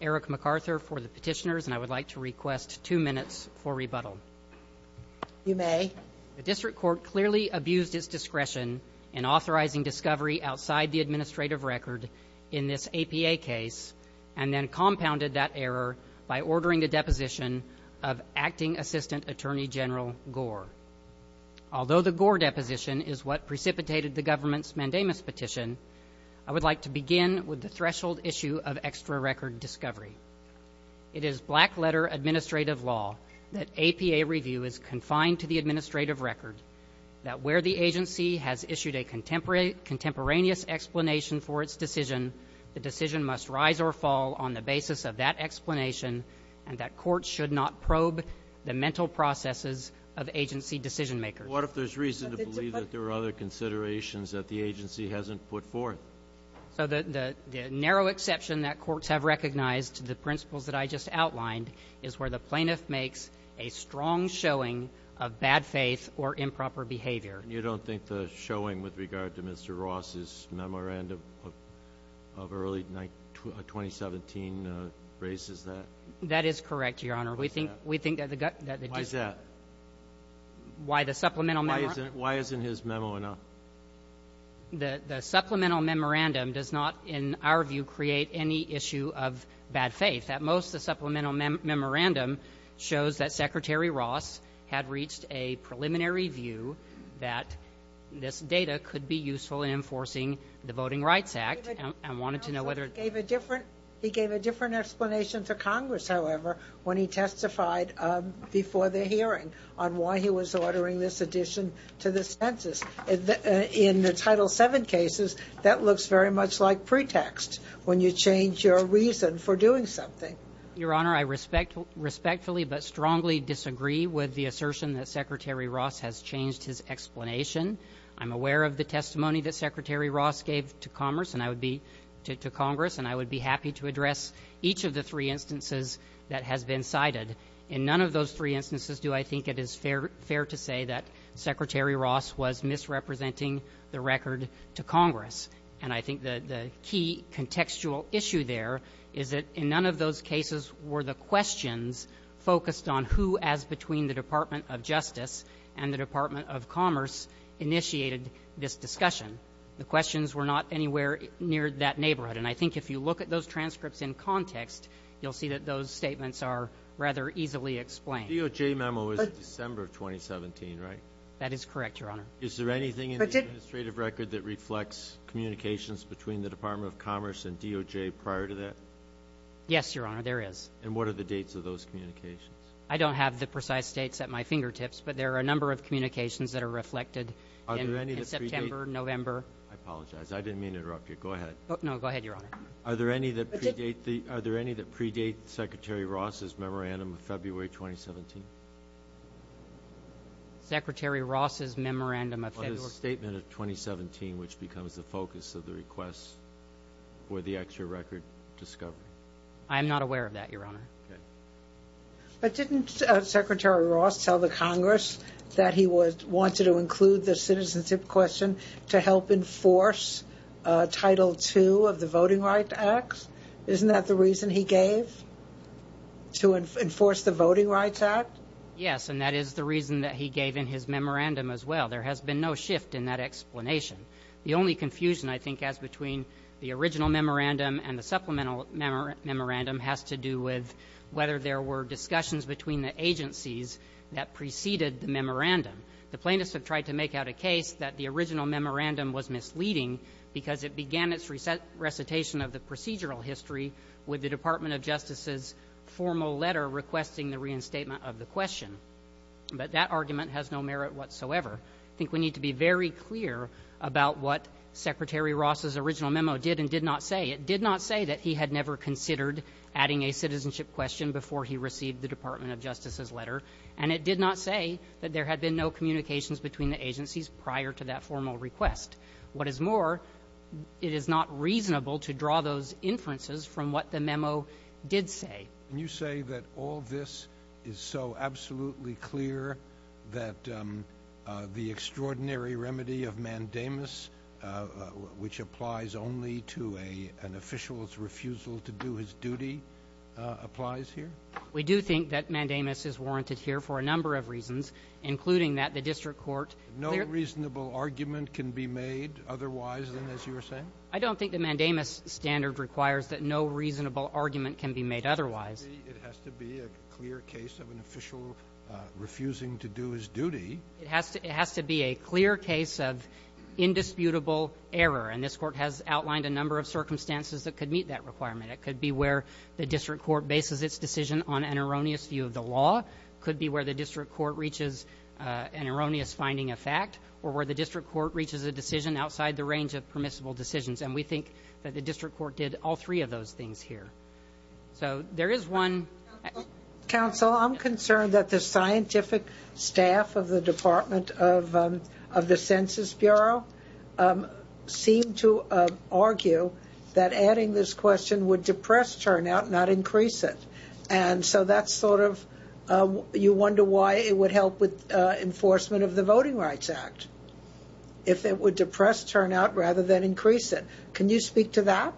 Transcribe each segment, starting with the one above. Eric MacArthur for the petitioners, and I would like to request two minutes for rebuttal. You may. The district court clearly abused its discretion in authorizing discovery outside the administrative record in this APA case and then compounded that error by ordering the deposition of Acting Assistant Attorney General Gore. Although the Gore deposition is what precipitated the government's mandamus petition, I would like to begin with the threshold issue of extra record discovery. It is black-letter administrative law that APA review is confined to the administrative record, that where the agency has issued a contemporaneous explanation for its decision, the decision must rise or fall on the basis of that explanation, and that courts should not probe the mental processes of agency decision-makers. But what if there's reason to believe that there are other considerations that the agency hasn't put forth? So the narrow exception that courts have recognized, the principles that I just outlined, is where the plaintiff makes a strong showing of bad faith or improper behavior. You don't think the showing with regard to Mr. Ross's memorandum of early 2017 raises that? That is correct, Your Honor. Why is that? Why the supplemental memorandum? Why isn't his memo enough? The supplemental memorandum does not, in our view, create any issue of bad faith. At most, the supplemental memorandum shows that Secretary Ross had reached a preliminary view that this data could be useful in enforcing the Voting Rights Act and wanted to know whether it was. He gave a different explanation to Congress, however, when he testified before the hearing on why he was ordering this addition to the census. In the Title VII cases, that looks very much like pretext when you change your reason for doing something. Your Honor, I respectfully but strongly disagree with the assertion that Secretary Ross has changed his explanation. I'm aware of the testimony that Secretary Ross gave to Congress, and I would be happy to address each of the three instances that has been cited. In none of those three instances do I think it is fair to say that Secretary Ross was misrepresenting the record to Congress. And I think the key contextual issue there is that in none of those cases were the questions focused on who, as between the Department of Justice and the Department of Commerce, initiated this discussion. The questions were not anywhere near that neighborhood. And I think if you look at those transcripts in context, you'll see that those statements are rather easily explained. The DOJ memo was December of 2017, right? That is correct, Your Honor. Is there anything in the administrative record that reflects communications between the Department of Commerce and DOJ prior to that? Yes, Your Honor, there is. And what are the dates of those communications? I don't have the precise dates at my fingertips, but there are a number of communications that are reflected in September, November. I apologize. I didn't mean to interrupt you. Go ahead. No, go ahead, Your Honor. Are there any that predate Secretary Ross's memorandum of February 2017? Secretary Ross's memorandum of February? Well, his statement of 2017, which becomes the focus of the request for the extra record discovery. I am not aware of that, Your Honor. But didn't Secretary Ross tell the Congress that he wanted to include the citizenship question to help enforce Title II of the Voting Rights Act? Isn't that the reason he gave, to enforce the Voting Rights Act? Yes, and that is the reason that he gave in his memorandum as well. There has been no shift in that explanation. The only confusion I think as between the original memorandum and the supplemental memorandum has to do with whether there were discussions between the agencies that preceded the memorandum. The plaintiffs have tried to make out a case that the original memorandum was misleading because it began its recitation of the procedural history with the Department of Justice's formal letter requesting the reinstatement of the question. But that argument has no merit whatsoever. I think we need to be very clear about what Secretary Ross's original memo did and did not say. It did not say that he had never considered adding a citizenship question before he received the Department of Justice's letter, and it did not say that there had been no communications between the agencies prior to that formal request. What is more, it is not reasonable to draw those inferences from what the memo did say. Can you say that all this is so absolutely clear that the extraordinary remedy of mandamus, which applies only to an official's refusal to do his duty, applies here? We do think that mandamus is warranted here for a number of reasons, including that the district court No reasonable argument can be made otherwise than as you were saying? I don't think the mandamus standard requires that no reasonable argument can be made otherwise. It has to be a clear case of an official refusing to do his duty. It has to be a clear case of indisputable error, and this Court has outlined a number of circumstances that could meet that requirement. It could be where the district court bases its decision on an erroneous view of the law. It could be where the district court reaches an erroneous finding of fact or where the district court reaches a decision outside the range of permissible decisions, and we think that the district court did all three of those things here. So there is one. Counsel, I'm concerned that the scientific staff of the Department of the Census Bureau seem to argue that adding this question would depress turnout, not increase it, and so that's sort of you wonder why it would help with enforcement of the Voting Rights Act, if it would depress turnout rather than increase it. Can you speak to that?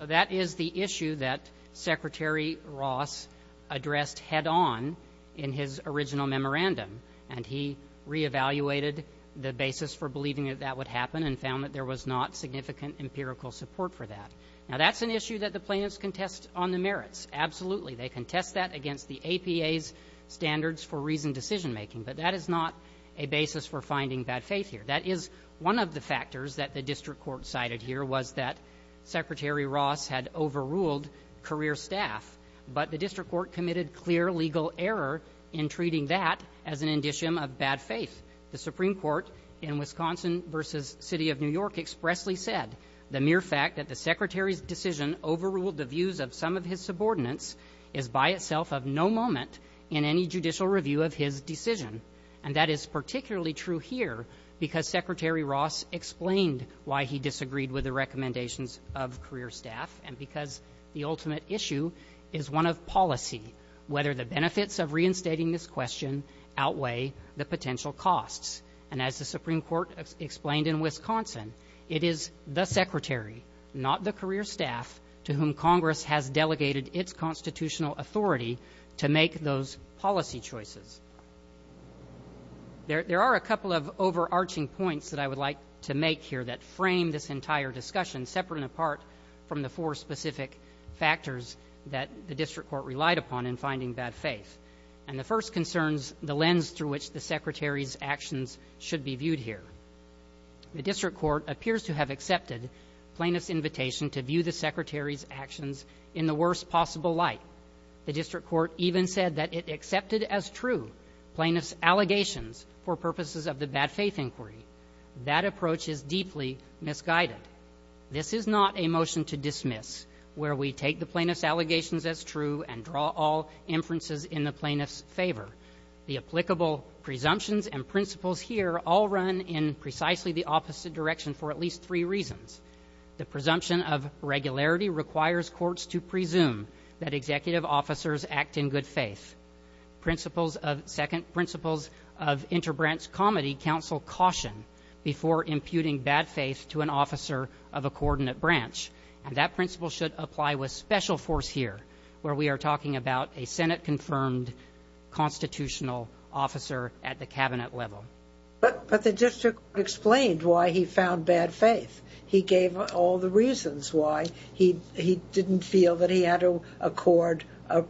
That is the issue that Secretary Ross addressed head-on in his original memorandum, and he reevaluated the basis for believing that that would happen and found that there was not significant empirical support for that. Now, that's an issue that the plaintiffs can test on the merits. Absolutely, they can test that against the APA's standards for reasoned decision-making, but that is not a basis for finding bad faith here. That is one of the factors that the district court cited here was that Secretary Ross had overruled career staff, but the district court committed clear legal error in treating that as an indicium of bad faith. The Supreme Court in Wisconsin v. City of New York expressly said the mere fact that the Secretary's decision overruled the views of some of his subordinates is by itself of no moment in any judicial review of his decision, and that is particularly true here because Secretary Ross explained why he disagreed with the recommendations of career staff and because the ultimate issue is one of policy, whether the benefits of reinstating this question outweigh the potential costs. And as the Supreme Court explained in Wisconsin, it is the Secretary, not the career staff, to whom Congress has delegated its constitutional authority to make those policy choices. There are a couple of overarching points that I would like to make here that frame this entire discussion separate and apart from the four specific factors that the district court relied upon in finding bad faith. And the first concerns the lens through which the Secretary's actions should be viewed here. The district court appears to have accepted plaintiff's invitation to view the Secretary's actions in the worst possible light. The district court even said that it accepted as true plaintiff's allegations for purposes of the bad faith inquiry. That approach is deeply misguided. This is not a motion to dismiss where we take the plaintiff's allegations as true and draw all inferences in the plaintiff's favor. The applicable presumptions and principles here all run in precisely the opposite direction for at least three reasons. The presumption of regularity requires courts to presume that executive officers act in good faith. Principles of interbranch comedy counsel caution before imputing bad faith to an officer of a coordinate branch. And that principle should apply with special force here where we are talking about a Senate-confirmed constitutional officer at the cabinet level. But the district court explained why he found bad faith. He gave all the reasons why he didn't feel that he had to accord a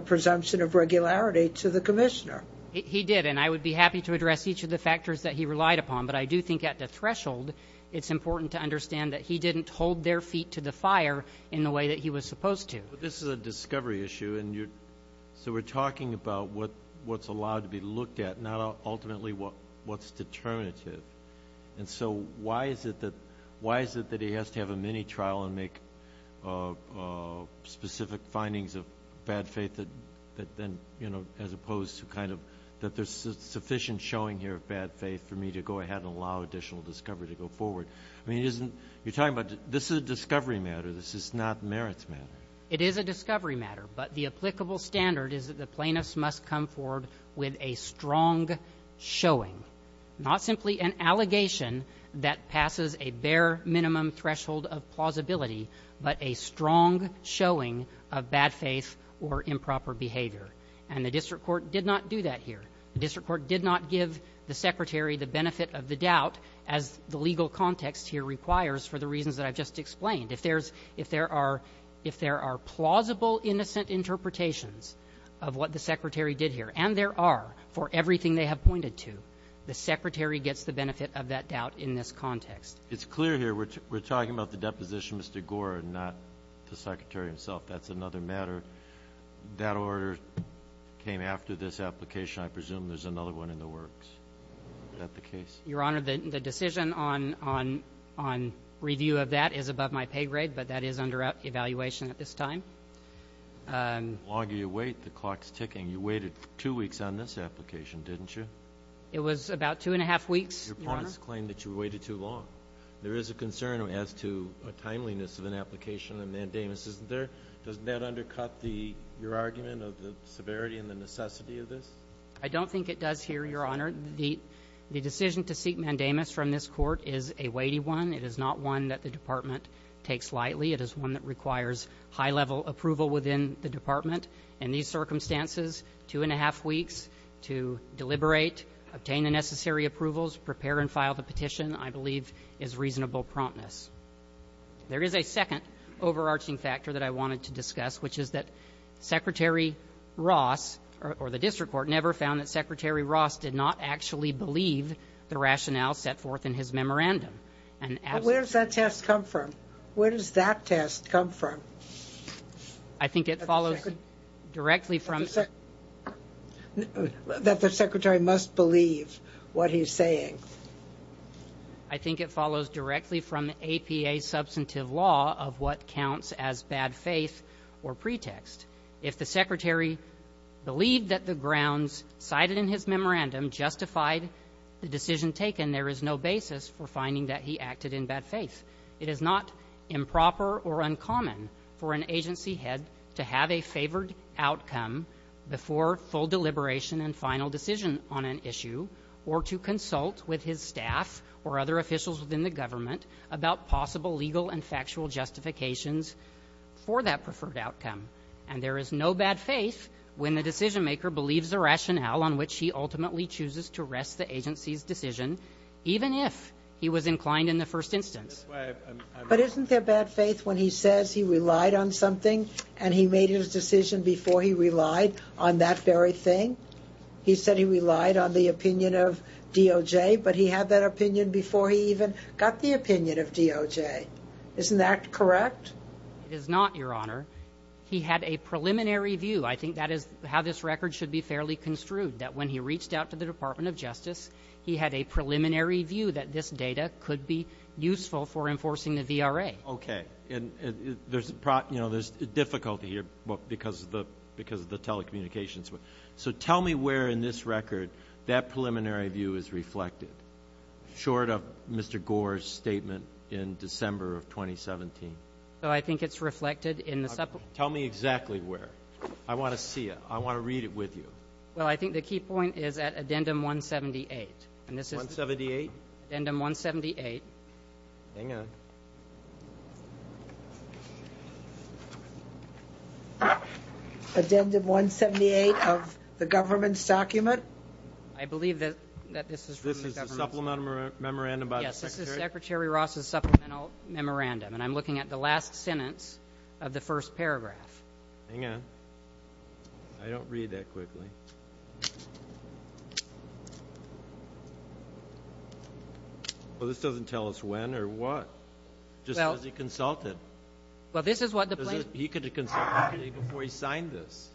presumption of regularity to the commissioner. He did. And I would be happy to address each of the factors that he relied upon. But I do think at the threshold it's important to understand that he didn't hold their feet to the fire in the way that he was supposed to. But this is a discovery issue, and so we're talking about what's allowed to be looked at, not ultimately what's determinative. And so why is it that he has to have a mini-trial and make specific findings of bad faith as opposed to kind of that there's sufficient showing here of bad faith for me to go ahead and allow additional discovery to go forward? I mean, you're talking about this is a discovery matter. This is not merits matter. It is a discovery matter, but the applicable standard is that the plaintiff must come forward with a strong showing, not simply an allegation that passes a bare minimum threshold of plausibility, but a strong showing of bad faith or improper behavior. And the district court did not do that here. The district court did not give the secretary the benefit of the doubt, as the legal context here requires for the reasons that I've just explained. If there are plausible innocent interpretations of what the secretary did here, and there are for everything they have pointed to, the secretary gets the benefit of that doubt in this context. It's clear here we're talking about the deposition, Mr. Gore, and not the secretary himself. That's another matter. That order came after this application. I presume there's another one in the works. Is that the case? Your Honor, the decision on review of that is above my pay grade, but that is under evaluation at this time. The longer you wait, the clock's ticking. You waited two weeks on this application, didn't you? It was about two and a half weeks, Your Honor. Your points claim that you waited too long. There is a concern as to timeliness of an application, and mandamus isn't there. Doesn't that undercut your argument of the severity and the necessity of this? I don't think it does here, Your Honor. The decision to seek mandamus from this Court is a weighty one. It is not one that the Department takes lightly. It is one that requires high-level approval within the Department. There is a second overarching factor that I wanted to discuss, which is that Secretary Ross, or the district court, never found that Secretary Ross did not actually believe the rationale set forth in his memorandum. But where does that test come from? Where does that test come from? I think it follows directly from the APA substantive law of what counts as bad faith or pretext. If the Secretary believed that the grounds cited in his memorandum justified the decision taken, there is no basis for finding that he acted in bad faith. It is not improper or uncommon for an agency head to have a favored outcome before full deliberation and final decision on an issue or to consult with his staff or other officials within the government about possible legal and factual justifications for that preferred outcome. And there is no bad faith when the decision-maker believes the rationale on which he ultimately chooses to rest the agency's decision, even if he was inclined in the first instance. But isn't there bad faith when he says he relied on something and he made his decision before he relied on that very thing? He said he relied on the opinion of DOJ, but he had that opinion before he even got the opinion of DOJ. Isn't that correct? It is not, Your Honor. He had a preliminary view. I think that is how this record should be fairly construed, that when he reached out to the Department of Justice, he had a preliminary view that this data could be useful for enforcing the VRA. Okay. And there's difficulty here because of the telecommunications. So tell me where in this record that preliminary view is reflected, short of Mr. Gore's statement in December of 2017. I think it's reflected in the separate. Tell me exactly where. I want to see it. I want to read it with you. Well, I think the key point is at addendum 178. 178? Addendum 178. Hang on. Addendum 178 of the government's document? I believe that this is from the government's document. This is a supplemental memorandum by the Secretary? Yes, this is Secretary Ross's supplemental memorandum, and I'm looking at the last sentence of the first paragraph. Hang on. I don't read that quickly. Well, this doesn't tell us when or what. Just because he consulted. Well, this is what the plaintiffs. He could have consulted before he signed this.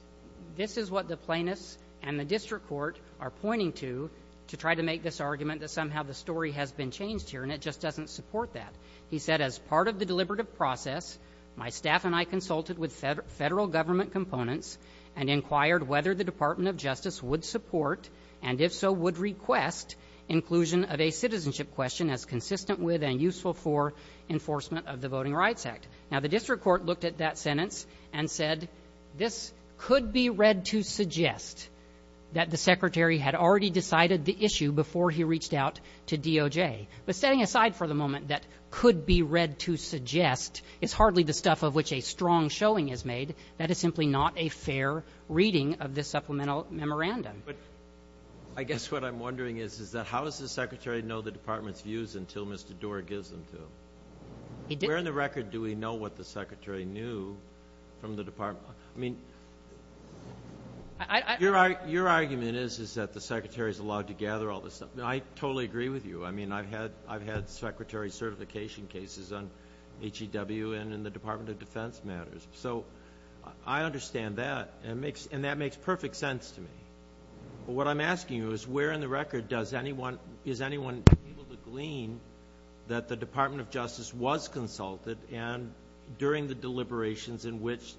This is what the plaintiffs and the district court are pointing to, to try to make this argument that somehow the story has been changed here, and it just doesn't support that. He said, as part of the deliberative process, my staff and I consulted with federal government components and inquired whether the Department of Justice would support and if so would request inclusion of a citizenship question as consistent with and useful for enforcement of the Voting Rights Act. Now, the district court looked at that sentence and said this could be read to suggest that the Secretary had already decided the issue before he reached out to DOJ. But setting aside for the moment that could be read to suggest, it's hardly the stuff of which a strong showing is made. That is simply not a fair reading of this supplemental memorandum. But I guess what I'm wondering is, is that how does the Secretary know the Department's views until Mr. Doar gives them to him? He didn't. Where in the record do we know what the Secretary knew from the Department? I mean, your argument is, is that the Secretary is allowed to gather all this stuff. I totally agree with you. I mean, I've had Secretary certification cases on HEW and in the Department of Defense matters. So I understand that, and that makes perfect sense to me. But what I'm asking you is, where in the record is anyone able to glean that the Department of Justice was consulted and during the deliberations in which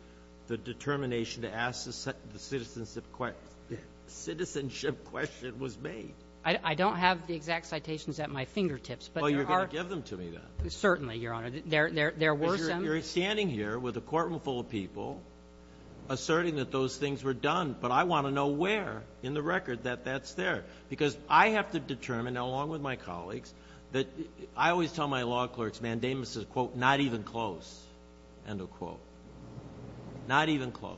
the determination to ask the citizenship question was made? I don't have the exact citations at my fingertips. Well, you were going to give them to me then. Certainly, Your Honor. There were some. Because you're standing here with a courtroom full of people asserting that those things were done. But I want to know where in the record that that's there. Because I have to determine, along with my colleagues, that I always tell my law clerks mandamus is, quote, not even close, end of quote. Not even close.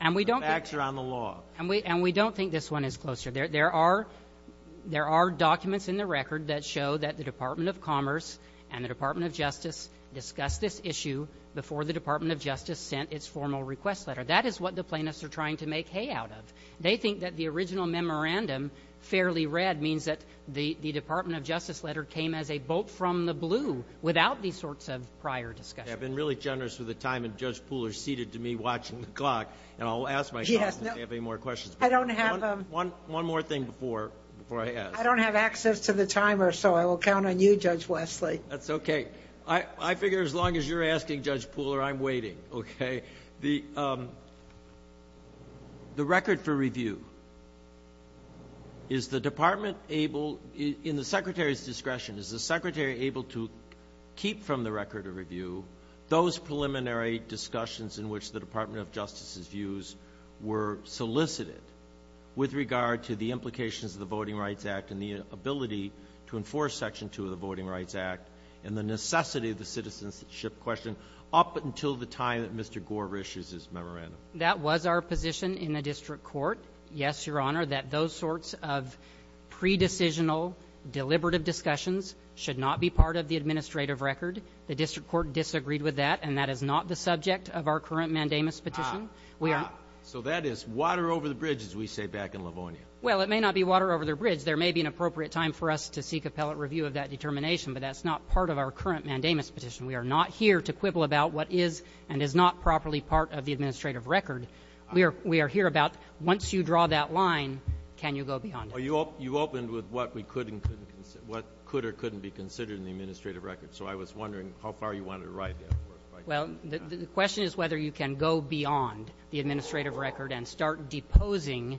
The facts are on the law. And we don't think this one is closer. There are documents in the record that show that the Department of Commerce and the Department of Justice discussed this issue before the Department of Justice sent its formal request letter. That is what the plaintiffs are trying to make hay out of. They think that the original memorandum, fairly read, means that the Department of Justice letter came as a bolt from the blue without these sorts of prior discussions. I've been really generous with the time, and Judge Poole is seated to me watching the clock. And I'll ask myself if they have any more questions. I don't have them. One more thing before I ask. I don't have access to the timer, so I will count on you, Judge Wesley. That's okay. I figure as long as you're asking, Judge Poole, I'm waiting. Okay? The record for review, is the Department able, in the Secretary's discretion, is the Secretary able to keep from the record of review those preliminary discussions in which the Department of Justice's views were solicited with regard to the implications of the Voting Rights Act and the ability to enforce Section 2 of the Voting Rights Act and the necessity of the citizenship question up until the time that Mr. Gore issues his memorandum? That was our position in the district court, yes, Your Honor, that those sorts of pre-decisional, deliberative discussions should not be part of the administrative record. The district court disagreed with that, and that is not the subject of our current mandamus petition. So that is water over the bridge, as we say back in Livonia. Well, it may not be water over the bridge. There may be an appropriate time for us to seek appellate review of that determination, but that's not part of our current mandamus petition. We are not here to quibble about what is and is not properly part of the administrative record. We are here about once you draw that line, can you go beyond it. You opened with what could or couldn't be considered in the administrative record, so I was wondering how far you wanted to ride there. Well, the question is whether you can go beyond the administrative record and start deposing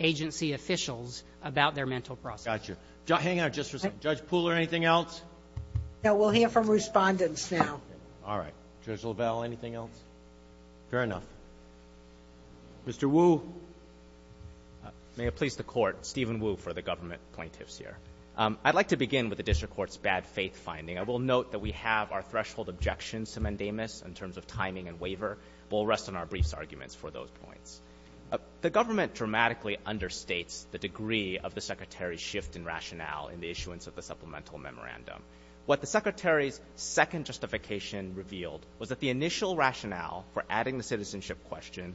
agency officials about their mental process. Got you. Hang on just for a second. Judge Pooler, anything else? No. We'll hear from Respondents now. All right. Judge LaValle, anything else? Fair enough. Mr. Wu. May it please the Court, Stephen Wu for the government plaintiffs here. I'd like to begin with the district court's bad faith finding. I will note that we have our threshold objections to mandamus in terms of timing and waiver, but we'll rest on our briefs arguments for those points. The government dramatically understates the degree of the Secretary's shift in rationale in the issuance of the supplemental memorandum. What the Secretary's second justification revealed was that the initial rationale for adding the citizenship question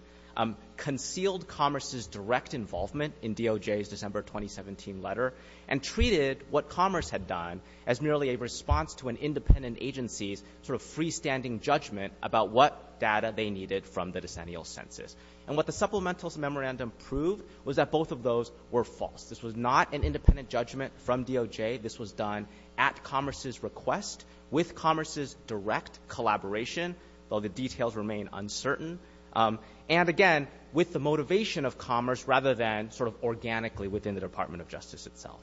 concealed Commerce's direct involvement in DOJ's December 2017 letter and treated what Commerce had done as merely a response to an independent agency's sort of freestanding judgment about what data they needed from the decennial census. And what the supplemental memorandum proved was that both of those were false. This was not an independent judgment from DOJ. This was done at Commerce's request, with Commerce's direct collaboration, though the details remain uncertain, and, again, with the motivation of Commerce rather than sort of organically within the Department of Justice itself.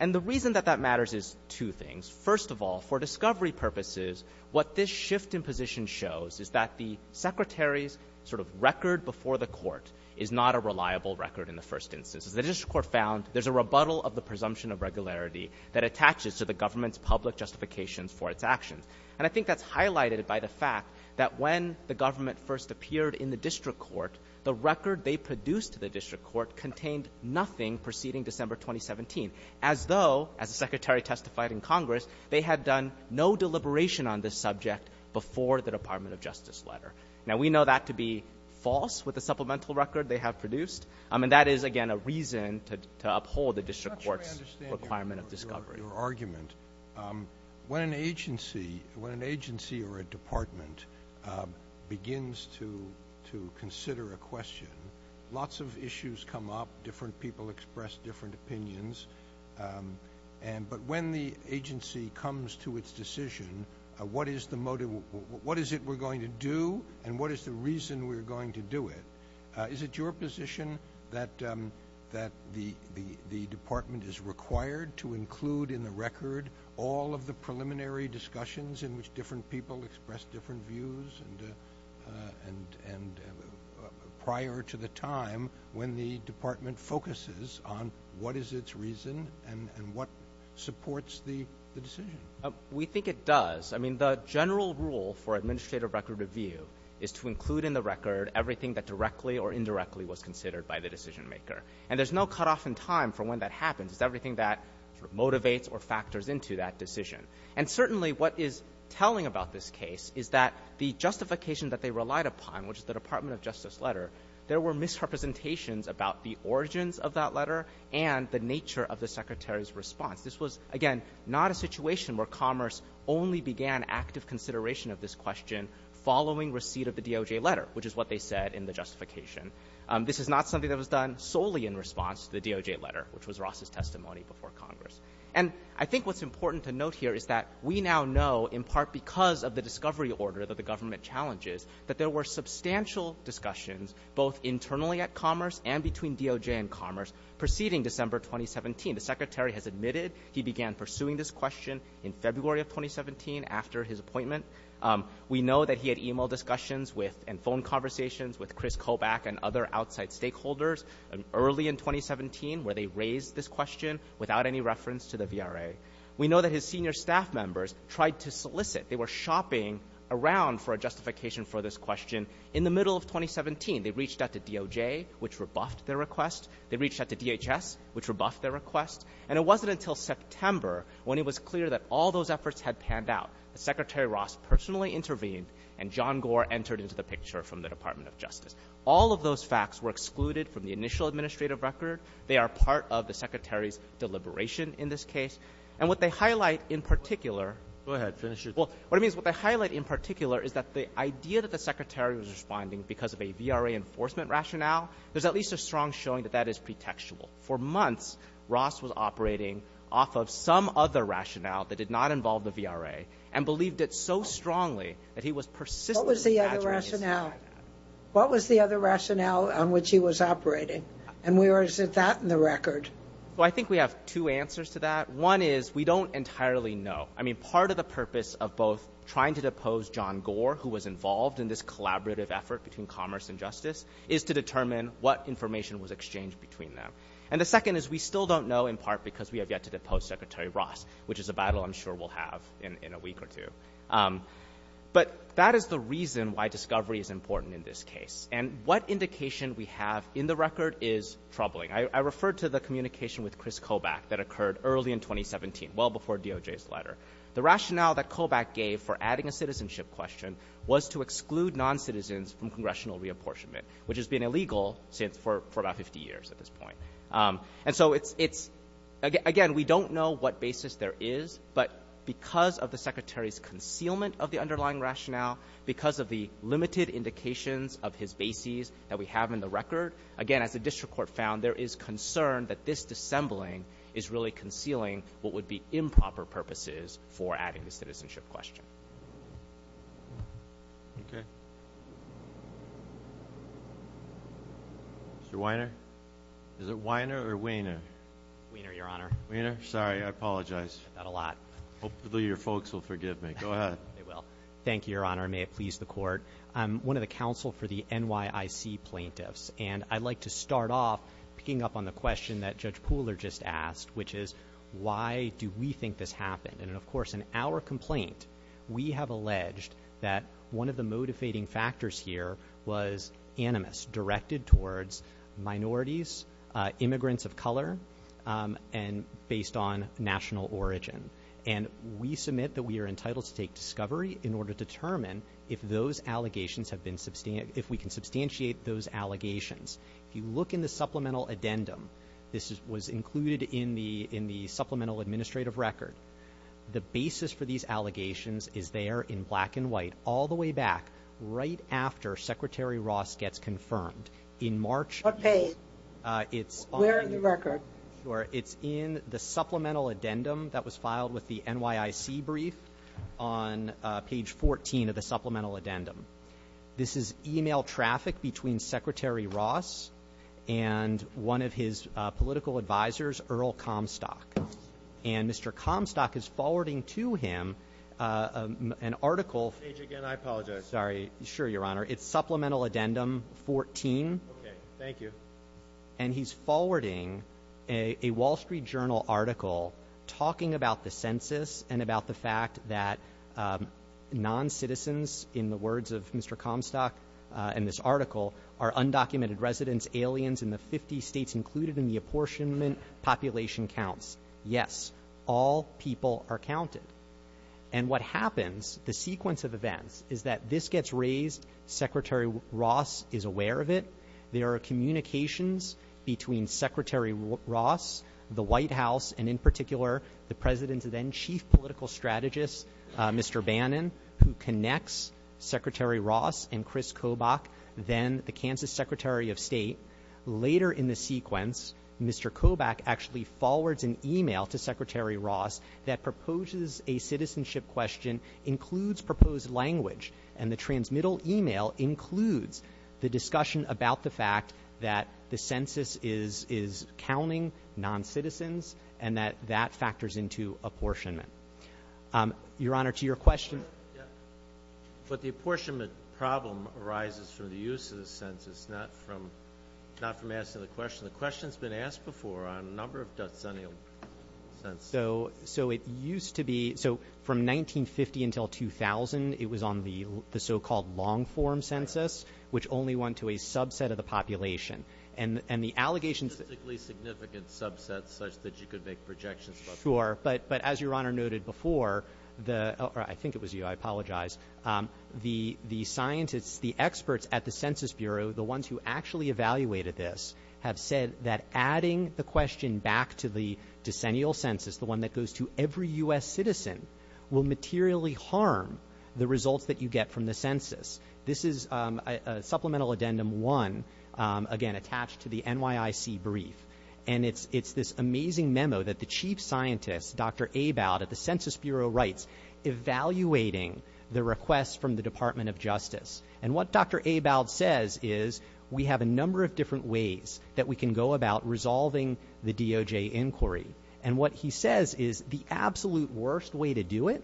And the reason that that matters is two things. First of all, for discovery purposes, what this shift in position shows is that the Secretary's sort of record before the court is not a reliable record in the first instance. The district court found there's a rebuttal of the presumption of regularity that attaches to the government's public justifications for its actions. And I think that's highlighted by the fact that when the government first appeared in the district court, the record they produced to the district court contained nothing preceding December 2017, as though, as the Secretary testified in Congress, they had done no deliberation on this subject before the Department of Justice letter. Now, we know that to be false with the supplemental record they have produced, and that is, again, a reason to uphold the district court's requirement of discovery. When an agency or a department begins to consider a question, lots of issues come up. Different people express different opinions. But when the agency comes to its decision, what is it we're going to do, and what is the reason we're going to do it, is it your position that the department is required to include in the record all of the preliminary discussions in which different people express different views prior to the time when the department focuses on what is its reason and what supports the decision? We think it does. I mean, the general rule for administrative record review is to include in the record everything that directly or indirectly was considered by the decisionmaker. And there's no cutoff in time for when that happens. It's everything that motivates or factors into that decision. And certainly what is telling about this case is that the justification that they relied upon, which is the Department of Justice letter, there were misrepresentations about the origins of that letter and the nature of the Secretary's response. This was, again, not a situation where Commerce only began active consideration of this question following receipt of the DOJ letter, which is what they said in the justification. This is not something that was done solely in response to the DOJ letter, which was Ross's testimony before Congress. And I think what's important to note here is that we now know, in part because of the discovery order that the government challenges, that there were substantial discussions both internally at Commerce and between DOJ and Commerce preceding December 2017. The Secretary has admitted he began pursuing this question in February of 2017 after his appointment. We know that he had e-mail discussions and phone conversations with Chris Kobach and other outside stakeholders early in 2017 where they raised this question without any reference to the VRA. We know that his senior staff members tried to solicit. They were shopping around for a justification for this question in the middle of 2017. They reached out to DOJ, which rebuffed their request. They reached out to DHS, which rebuffed their request. And it wasn't until September when it was clear that all those efforts had panned out. Secretary Ross personally intervened, and John Gore entered into the picture from the Department of Justice. All of those facts were excluded from the initial administrative record. They are part of the Secretary's deliberation in this case. And what they highlight in particular— Go ahead. Finish it. Well, what I mean is what they highlight in particular is that the idea that the Secretary was responding because of a VRA enforcement rationale, there's at least a strong showing that that is pretextual. For months, Ross was operating off of some other rationale that did not involve the VRA and believed it so strongly that he was persistently badgering his staff. What was the other rationale? What was the other rationale on which he was operating? And where is that in the record? Well, I think we have two answers to that. One is we don't entirely know. who was involved in this collaborative effort between Commerce and Justice is to determine what information was exchanged between them. And the second is we still don't know in part because we have yet to depose Secretary Ross, which is a battle I'm sure we'll have in a week or two. But that is the reason why discovery is important in this case. And what indication we have in the record is troubling. I referred to the communication with Chris Kobach that occurred early in 2017, well before DOJ's letter. The rationale that Kobach gave for adding a citizenship question was to exclude noncitizens from congressional reapportionment, which has been illegal for about 50 years at this point. And so it's, again, we don't know what basis there is, but because of the Secretary's concealment of the underlying rationale, because of the limited indications of his bases that we have in the record, again, as the district court found, there is concern that this dissembling is really concealing what would be improper purposes for adding the citizenship question. Okay. Mr. Weiner? Is it Weiner or Weiner? Weiner, Your Honor. Weiner? Sorry, I apologize. I've said that a lot. Hopefully your folks will forgive me. Go ahead. They will. Thank you, Your Honor, and may it please the Court. I'm one of the counsel for the NYIC plaintiffs, and I'd like to start off picking up on the question that Judge Pooler just asked, which is why do we think this happened? And, of course, in our complaint, we have alleged that one of the motivating factors here was animus directed towards minorities, immigrants of color, and based on national origin. And we submit that we are entitled to take discovery in order to determine if we can substantiate those allegations. If you look in the supplemental addendum, this was included in the supplemental administrative record, the basis for these allegations is there in black and white all the way back, right after Secretary Ross gets confirmed. What page? Where in the record? Sure. It's in the supplemental addendum that was filed with the NYIC brief on page 14 of the supplemental addendum. This is email traffic between Secretary Ross and one of his political advisors, Earl Comstock. And Mr. Comstock is forwarding to him an article. Page again. I apologize. Sorry. Sure, Your Honor. It's supplemental addendum 14. Okay. Thank you. And he's forwarding a Wall Street Journal article talking about the census and about the fact that noncitizens, in the words of Mr. Comstock in this article, are undocumented residents, aliens in the 50 states included in the apportionment population counts. Yes, all people are counted. And what happens, the sequence of events, is that this gets raised, Secretary Ross is aware of it, there are communications between Secretary Ross, the White House, and in particular the President's then Chief Political Strategist, Mr. Bannon, who connects Secretary Ross and Chris Kobach, then the Kansas Secretary of State. Later in the sequence, Mr. Kobach actually forwards an email to Secretary Ross that proposes a citizenship question, includes proposed language, and the transmittal email includes the discussion about the fact that the census is counting noncitizens and that that factors into apportionment. Your Honor, to your question. But the apportionment problem arises from the use of the census, not from asking the question. The question's been asked before on a number of decennial censuses. So it used to be, so from 1950 until 2000, it was on the so-called long-form census, which only went to a subset of the population. And the allegations that Specifically significant subsets such that you could make projections about Sure, but as Your Honor noted before, I think it was you, I apologize, the scientists, the experts at the Census Bureau, the ones who actually evaluated this, have said that adding the question back to the decennial census, the one that goes to every U.S. citizen, will materially harm the results that you get from the census. This is Supplemental Addendum 1, again, attached to the NYIC brief. And it's this amazing memo that the chief scientist, Dr. Abowd, at the Census Bureau writes, evaluating the request from the Department of Justice. And what Dr. Abowd says is we have a number of different ways that we can go about resolving the DOJ inquiry. And what he says is the absolute worst way to do it,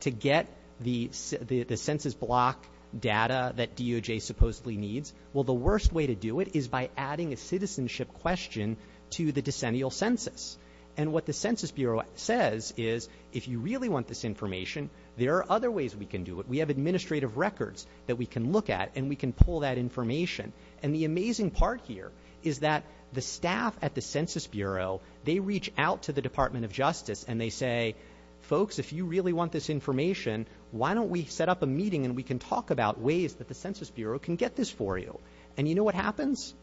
to get the census block data that DOJ supposedly needs, well, the worst way to do it is by adding a citizenship question to the decennial census. And what the Census Bureau says is if you really want this information, there are other ways we can do it. We have administrative records that we can look at, and we can pull that information. And the amazing part here is that the staff at the Census Bureau, they reach out to the Department of Justice, and they say, folks, if you really want this information, why don't we set up a meeting, and we can talk about ways that the Census Bureau can get this for you. And you know what happens?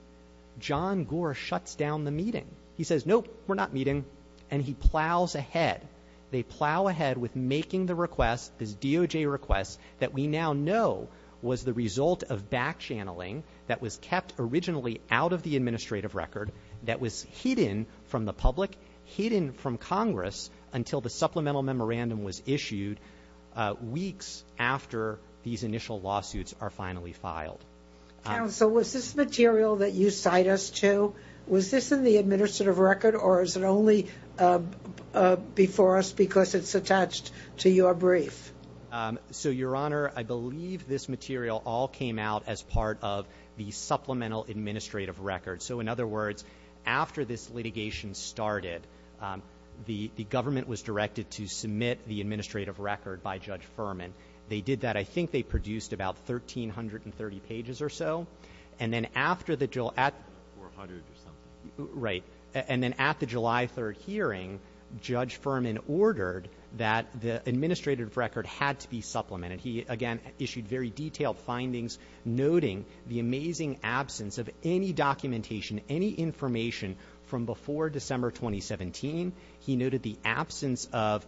John Gore shuts down the meeting. He says, nope, we're not meeting, and he plows ahead. They plow ahead with making the request, this DOJ request, that we now know was the result of back-channeling that was kept originally out of the administrative record, that was hidden from the public, hidden from Congress until the supplemental memorandum was issued weeks after these initial lawsuits are finally filed. Counsel, was this material that you cite us to, was this in the administrative record, or is it only before us because it's attached to your brief? So, Your Honor, I believe this material all came out as part of the supplemental administrative record. So, in other words, after this litigation started, the government was directed to submit the administrative record by Judge Furman. They did that. I think they produced about 1,330 pages or so. And then after the – Four hundred or something. Right. And then at the July 3rd hearing, Judge Furman ordered that the administrative record had to be supplemented. He, again, issued very detailed findings noting the amazing absence of any documentation, any information from before December 2017. He noted the absence of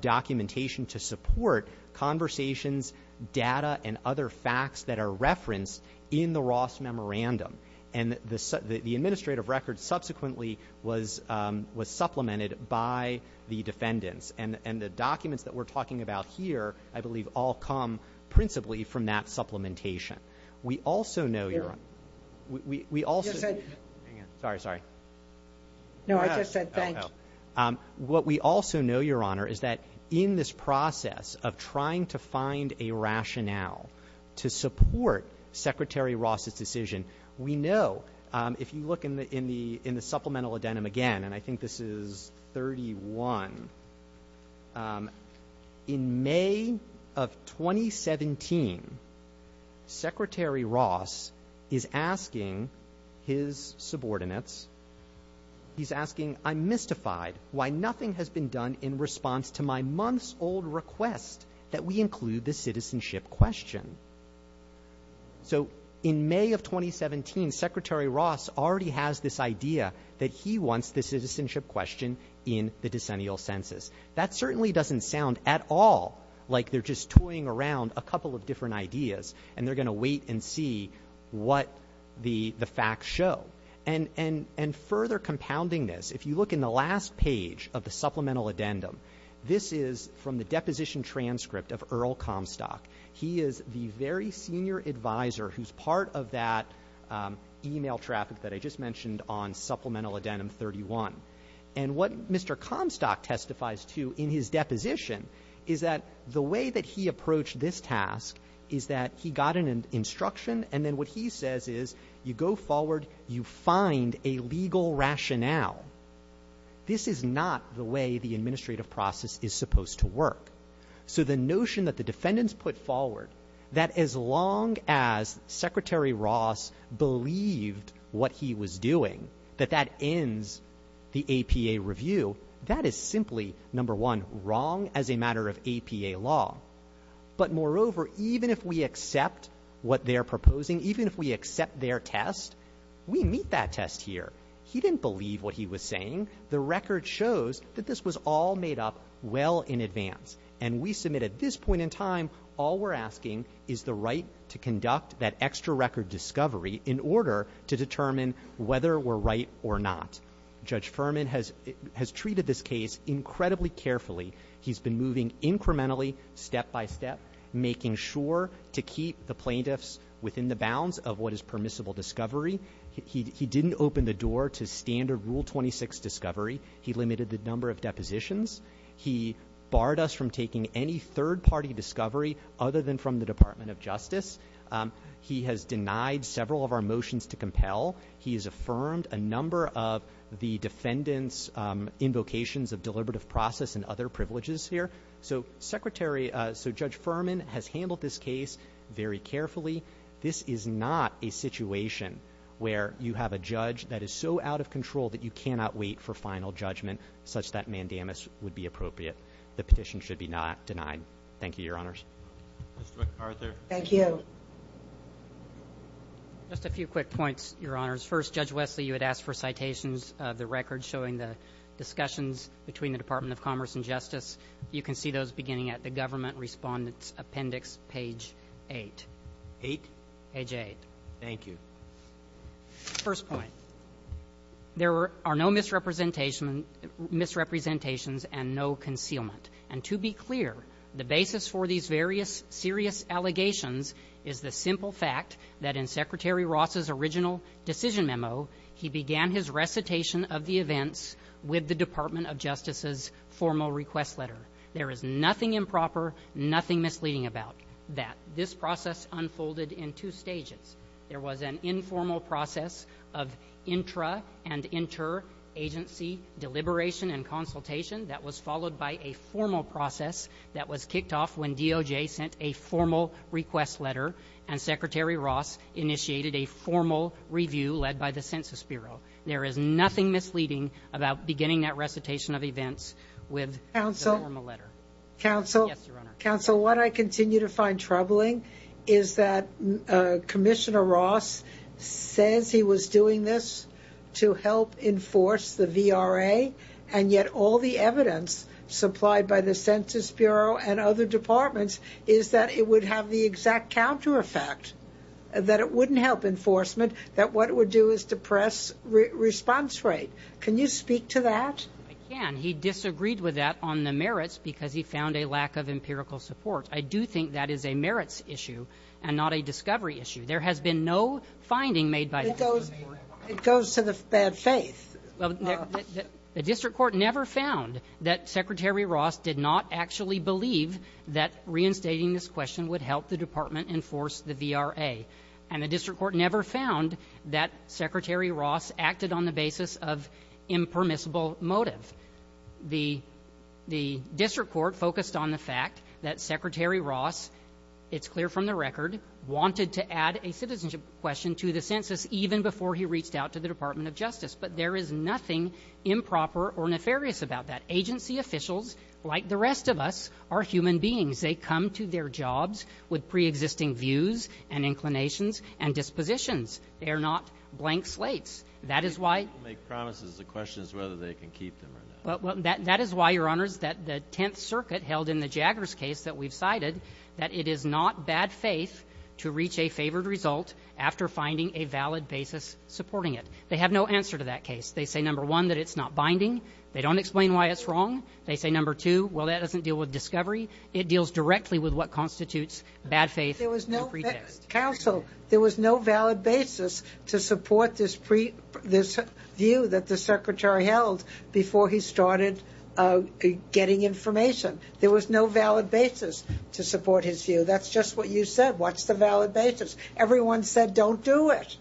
documentation to support conversations, data, and other facts that are referenced in the Ross Memorandum. And the administrative record subsequently was supplemented by the defendants. And the documents that we're talking about here, I believe, all come principally from that supplementation. We also know, Your Honor, we also – Yes, I – Hang on. Sorry, sorry. No, I just said thank you. What we also know, Your Honor, is that in this process of trying to find a rationale to support Secretary Ross's decision, we know, if you look in the supplemental addendum again, and I think this is 31, in May of 2017, Secretary Ross is asking his subordinates, he's asking, I'm mystified why nothing has been done in response to my months-old request that we include the citizenship question. So in May of 2017, Secretary Ross already has this idea that he wants the citizenship question in the decennial census. That certainly doesn't sound at all like they're just toying around a couple of different ideas and they're going to wait and see what the facts show. And further compounding this, if you look in the last page of the supplemental addendum, this is from the deposition transcript of Earl Comstock. He is the very senior advisor who's part of that email traffic that I just mentioned on supplemental addendum 31. And what Mr. Comstock testifies to in his deposition is that the way that he approached this task is that he got an instruction, and then what he says is you go forward, you find a legal rationale. This is not the way the administrative process is supposed to work. So the notion that the defendants put forward that as long as Secretary Ross believed what he was doing, that that ends the APA review, that is simply, number one, wrong as a matter of APA law. But moreover, even if we accept what they're proposing, even if we accept their test, we meet that test here. He didn't believe what he was saying. The record shows that this was all made up well in advance. And we submit at this point in time all we're asking is the right to conduct that extra record discovery in order to determine whether we're right or not. Judge Furman has treated this case incredibly carefully. He's been moving incrementally, step by step, making sure to keep the plaintiffs within the bounds of what is permissible discovery. He didn't open the door to standard Rule 26 discovery. He limited the number of depositions. He barred us from taking any third-party discovery other than from the Department of Justice. He has denied several of our motions to compel. He has affirmed a number of the defendants' invocations of deliberative process and other privileges here. So Secretary ‑‑ so Judge Furman has handled this case very carefully. This is not a situation where you have a judge that is so out of control that you cannot wait for final judgment such that mandamus would be appropriate. The petition should be not denied. Thank you, Your Honors. Mr. McArthur. Thank you. Just a few quick points, Your Honors. First, Judge Wesley, you had asked for citations of the record showing the discussions between the Department of Commerce and Justice. You can see those beginning at the government respondent's appendix, page 8. Eight? Page 8. Thank you. First point, there are no misrepresentations and no concealment. And to be clear, the basis for these various serious allegations is the simple fact that in Secretary Ross's original decision memo, he began his recitation of the events with the Department of Justice's formal request letter. There is nothing improper, nothing misleading about that. This process unfolded in two stages. There was an informal process of intra and interagency deliberation and consultation that was followed by a formal process that was kicked off when DOJ sent a formal request letter and Secretary Ross initiated a formal review led by the Census Bureau. There is nothing misleading about beginning that recitation of events with the formal letter. Counsel. Yes, Your Honor. Counsel, what I continue to find troubling is that Commissioner Ross says he was doing this to help enforce the VRA, and yet all the evidence supplied by the Census Bureau and other departments is that it would have the exact counter effect, that it wouldn't help enforcement, that what it would do is depress response rate. Can you speak to that? I can. He disagreed with that on the merits because he found a lack of empirical support. I do think that is a merits issue and not a discovery issue. There has been no finding made by the district court. It goes to the bad faith. The district court never found that Secretary Ross did not actually believe that reinstating this question would help the department enforce the VRA, and the district court never found that Secretary Ross acted on the basis of impermissible motive. The district court focused on the fact that Secretary Ross, it's clear from the record, wanted to add a citizenship question to the census even before he reached out to the Department of Justice, but there is nothing improper or nefarious about that. Agency officials, like the rest of us, are human beings. They come to their jobs with preexisting views and inclinations and dispositions. They are not blank slates. That is why you make promises. The question is whether they can keep them or not. That is why, Your Honors, that the Tenth Circuit held in the Jaggers case that we've cited that it is not bad faith to reach a favored result after finding a valid basis supporting it. They have no answer to that case. They say, number one, that it's not binding. They don't explain why it's wrong. They say, number two, well, that doesn't deal with discovery. It deals directly with what constitutes bad faith and pretext. Counsel, there was no valid basis to support this view that the Secretary held before he started getting information. There was no valid basis to support his view. That's just what you said. What's the valid basis? Everyone said don't do it.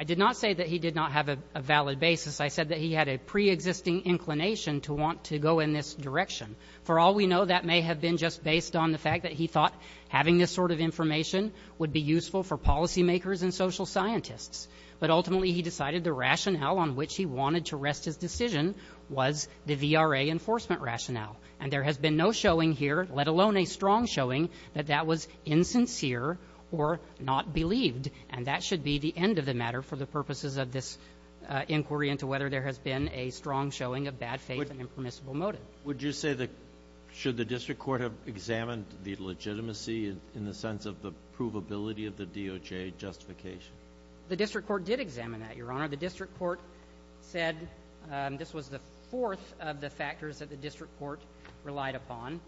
I did not say that he did not have a valid basis. I said that he had a preexisting inclination to want to go in this direction. For all we know, that may have been just based on the fact that he thought having this sort of information would be useful for policymakers and social scientists. But ultimately, he decided the rationale on which he wanted to rest his decision was the VRA enforcement rationale. And there has been no showing here, let alone a strong showing, that that was insincere or not believed. And that should be the end of the matter for the purposes of this inquiry into whether there has been a strong showing of bad faith and impermissible motive. Would you say that should the district court have examined the legitimacy in the sense of the provability of the DOJ justification? The district court did examine that, Your Honor. The district court said this was the fourth of the factors that the district court relied upon.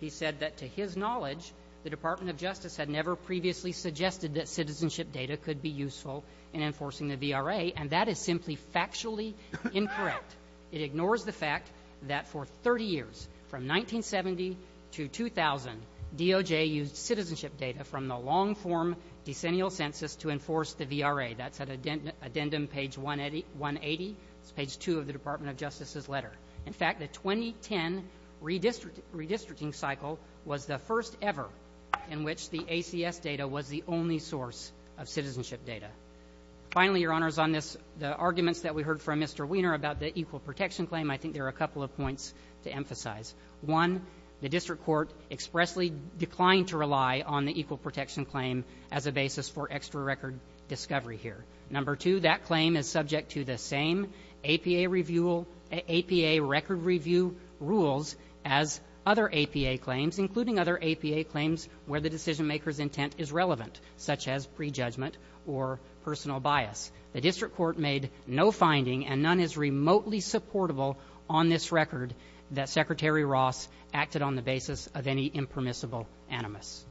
He said that to his knowledge, the Department of Justice had never previously suggested that citizenship data could be useful in enforcing the VRA, and that is simply factually incorrect. It ignores the fact that for 30 years, from 1970 to 2000, DOJ used citizenship data from the long-form decennial census to enforce the VRA. That's at addendum page 180. It's page 2 of the Department of Justice's letter. In fact, the 2010 redistricting cycle was the first ever in which the ACS data was the only source of citizenship data. Finally, Your Honors, on this, the arguments that we heard from Mr. Wiener about the equal protection claim, I think there are a couple of points to emphasize. One, the district court expressly declined to rely on the equal protection claim as a basis for extra record discovery here. Number two, that claim is subject to the same APA record review rules as other APA claims, including other APA claims where the decision-maker's intent is relevant, such as prejudgment or personal bias. The district court made no finding, and none is remotely supportable, on this record that Secretary Ross acted on the basis of any impermissible animus.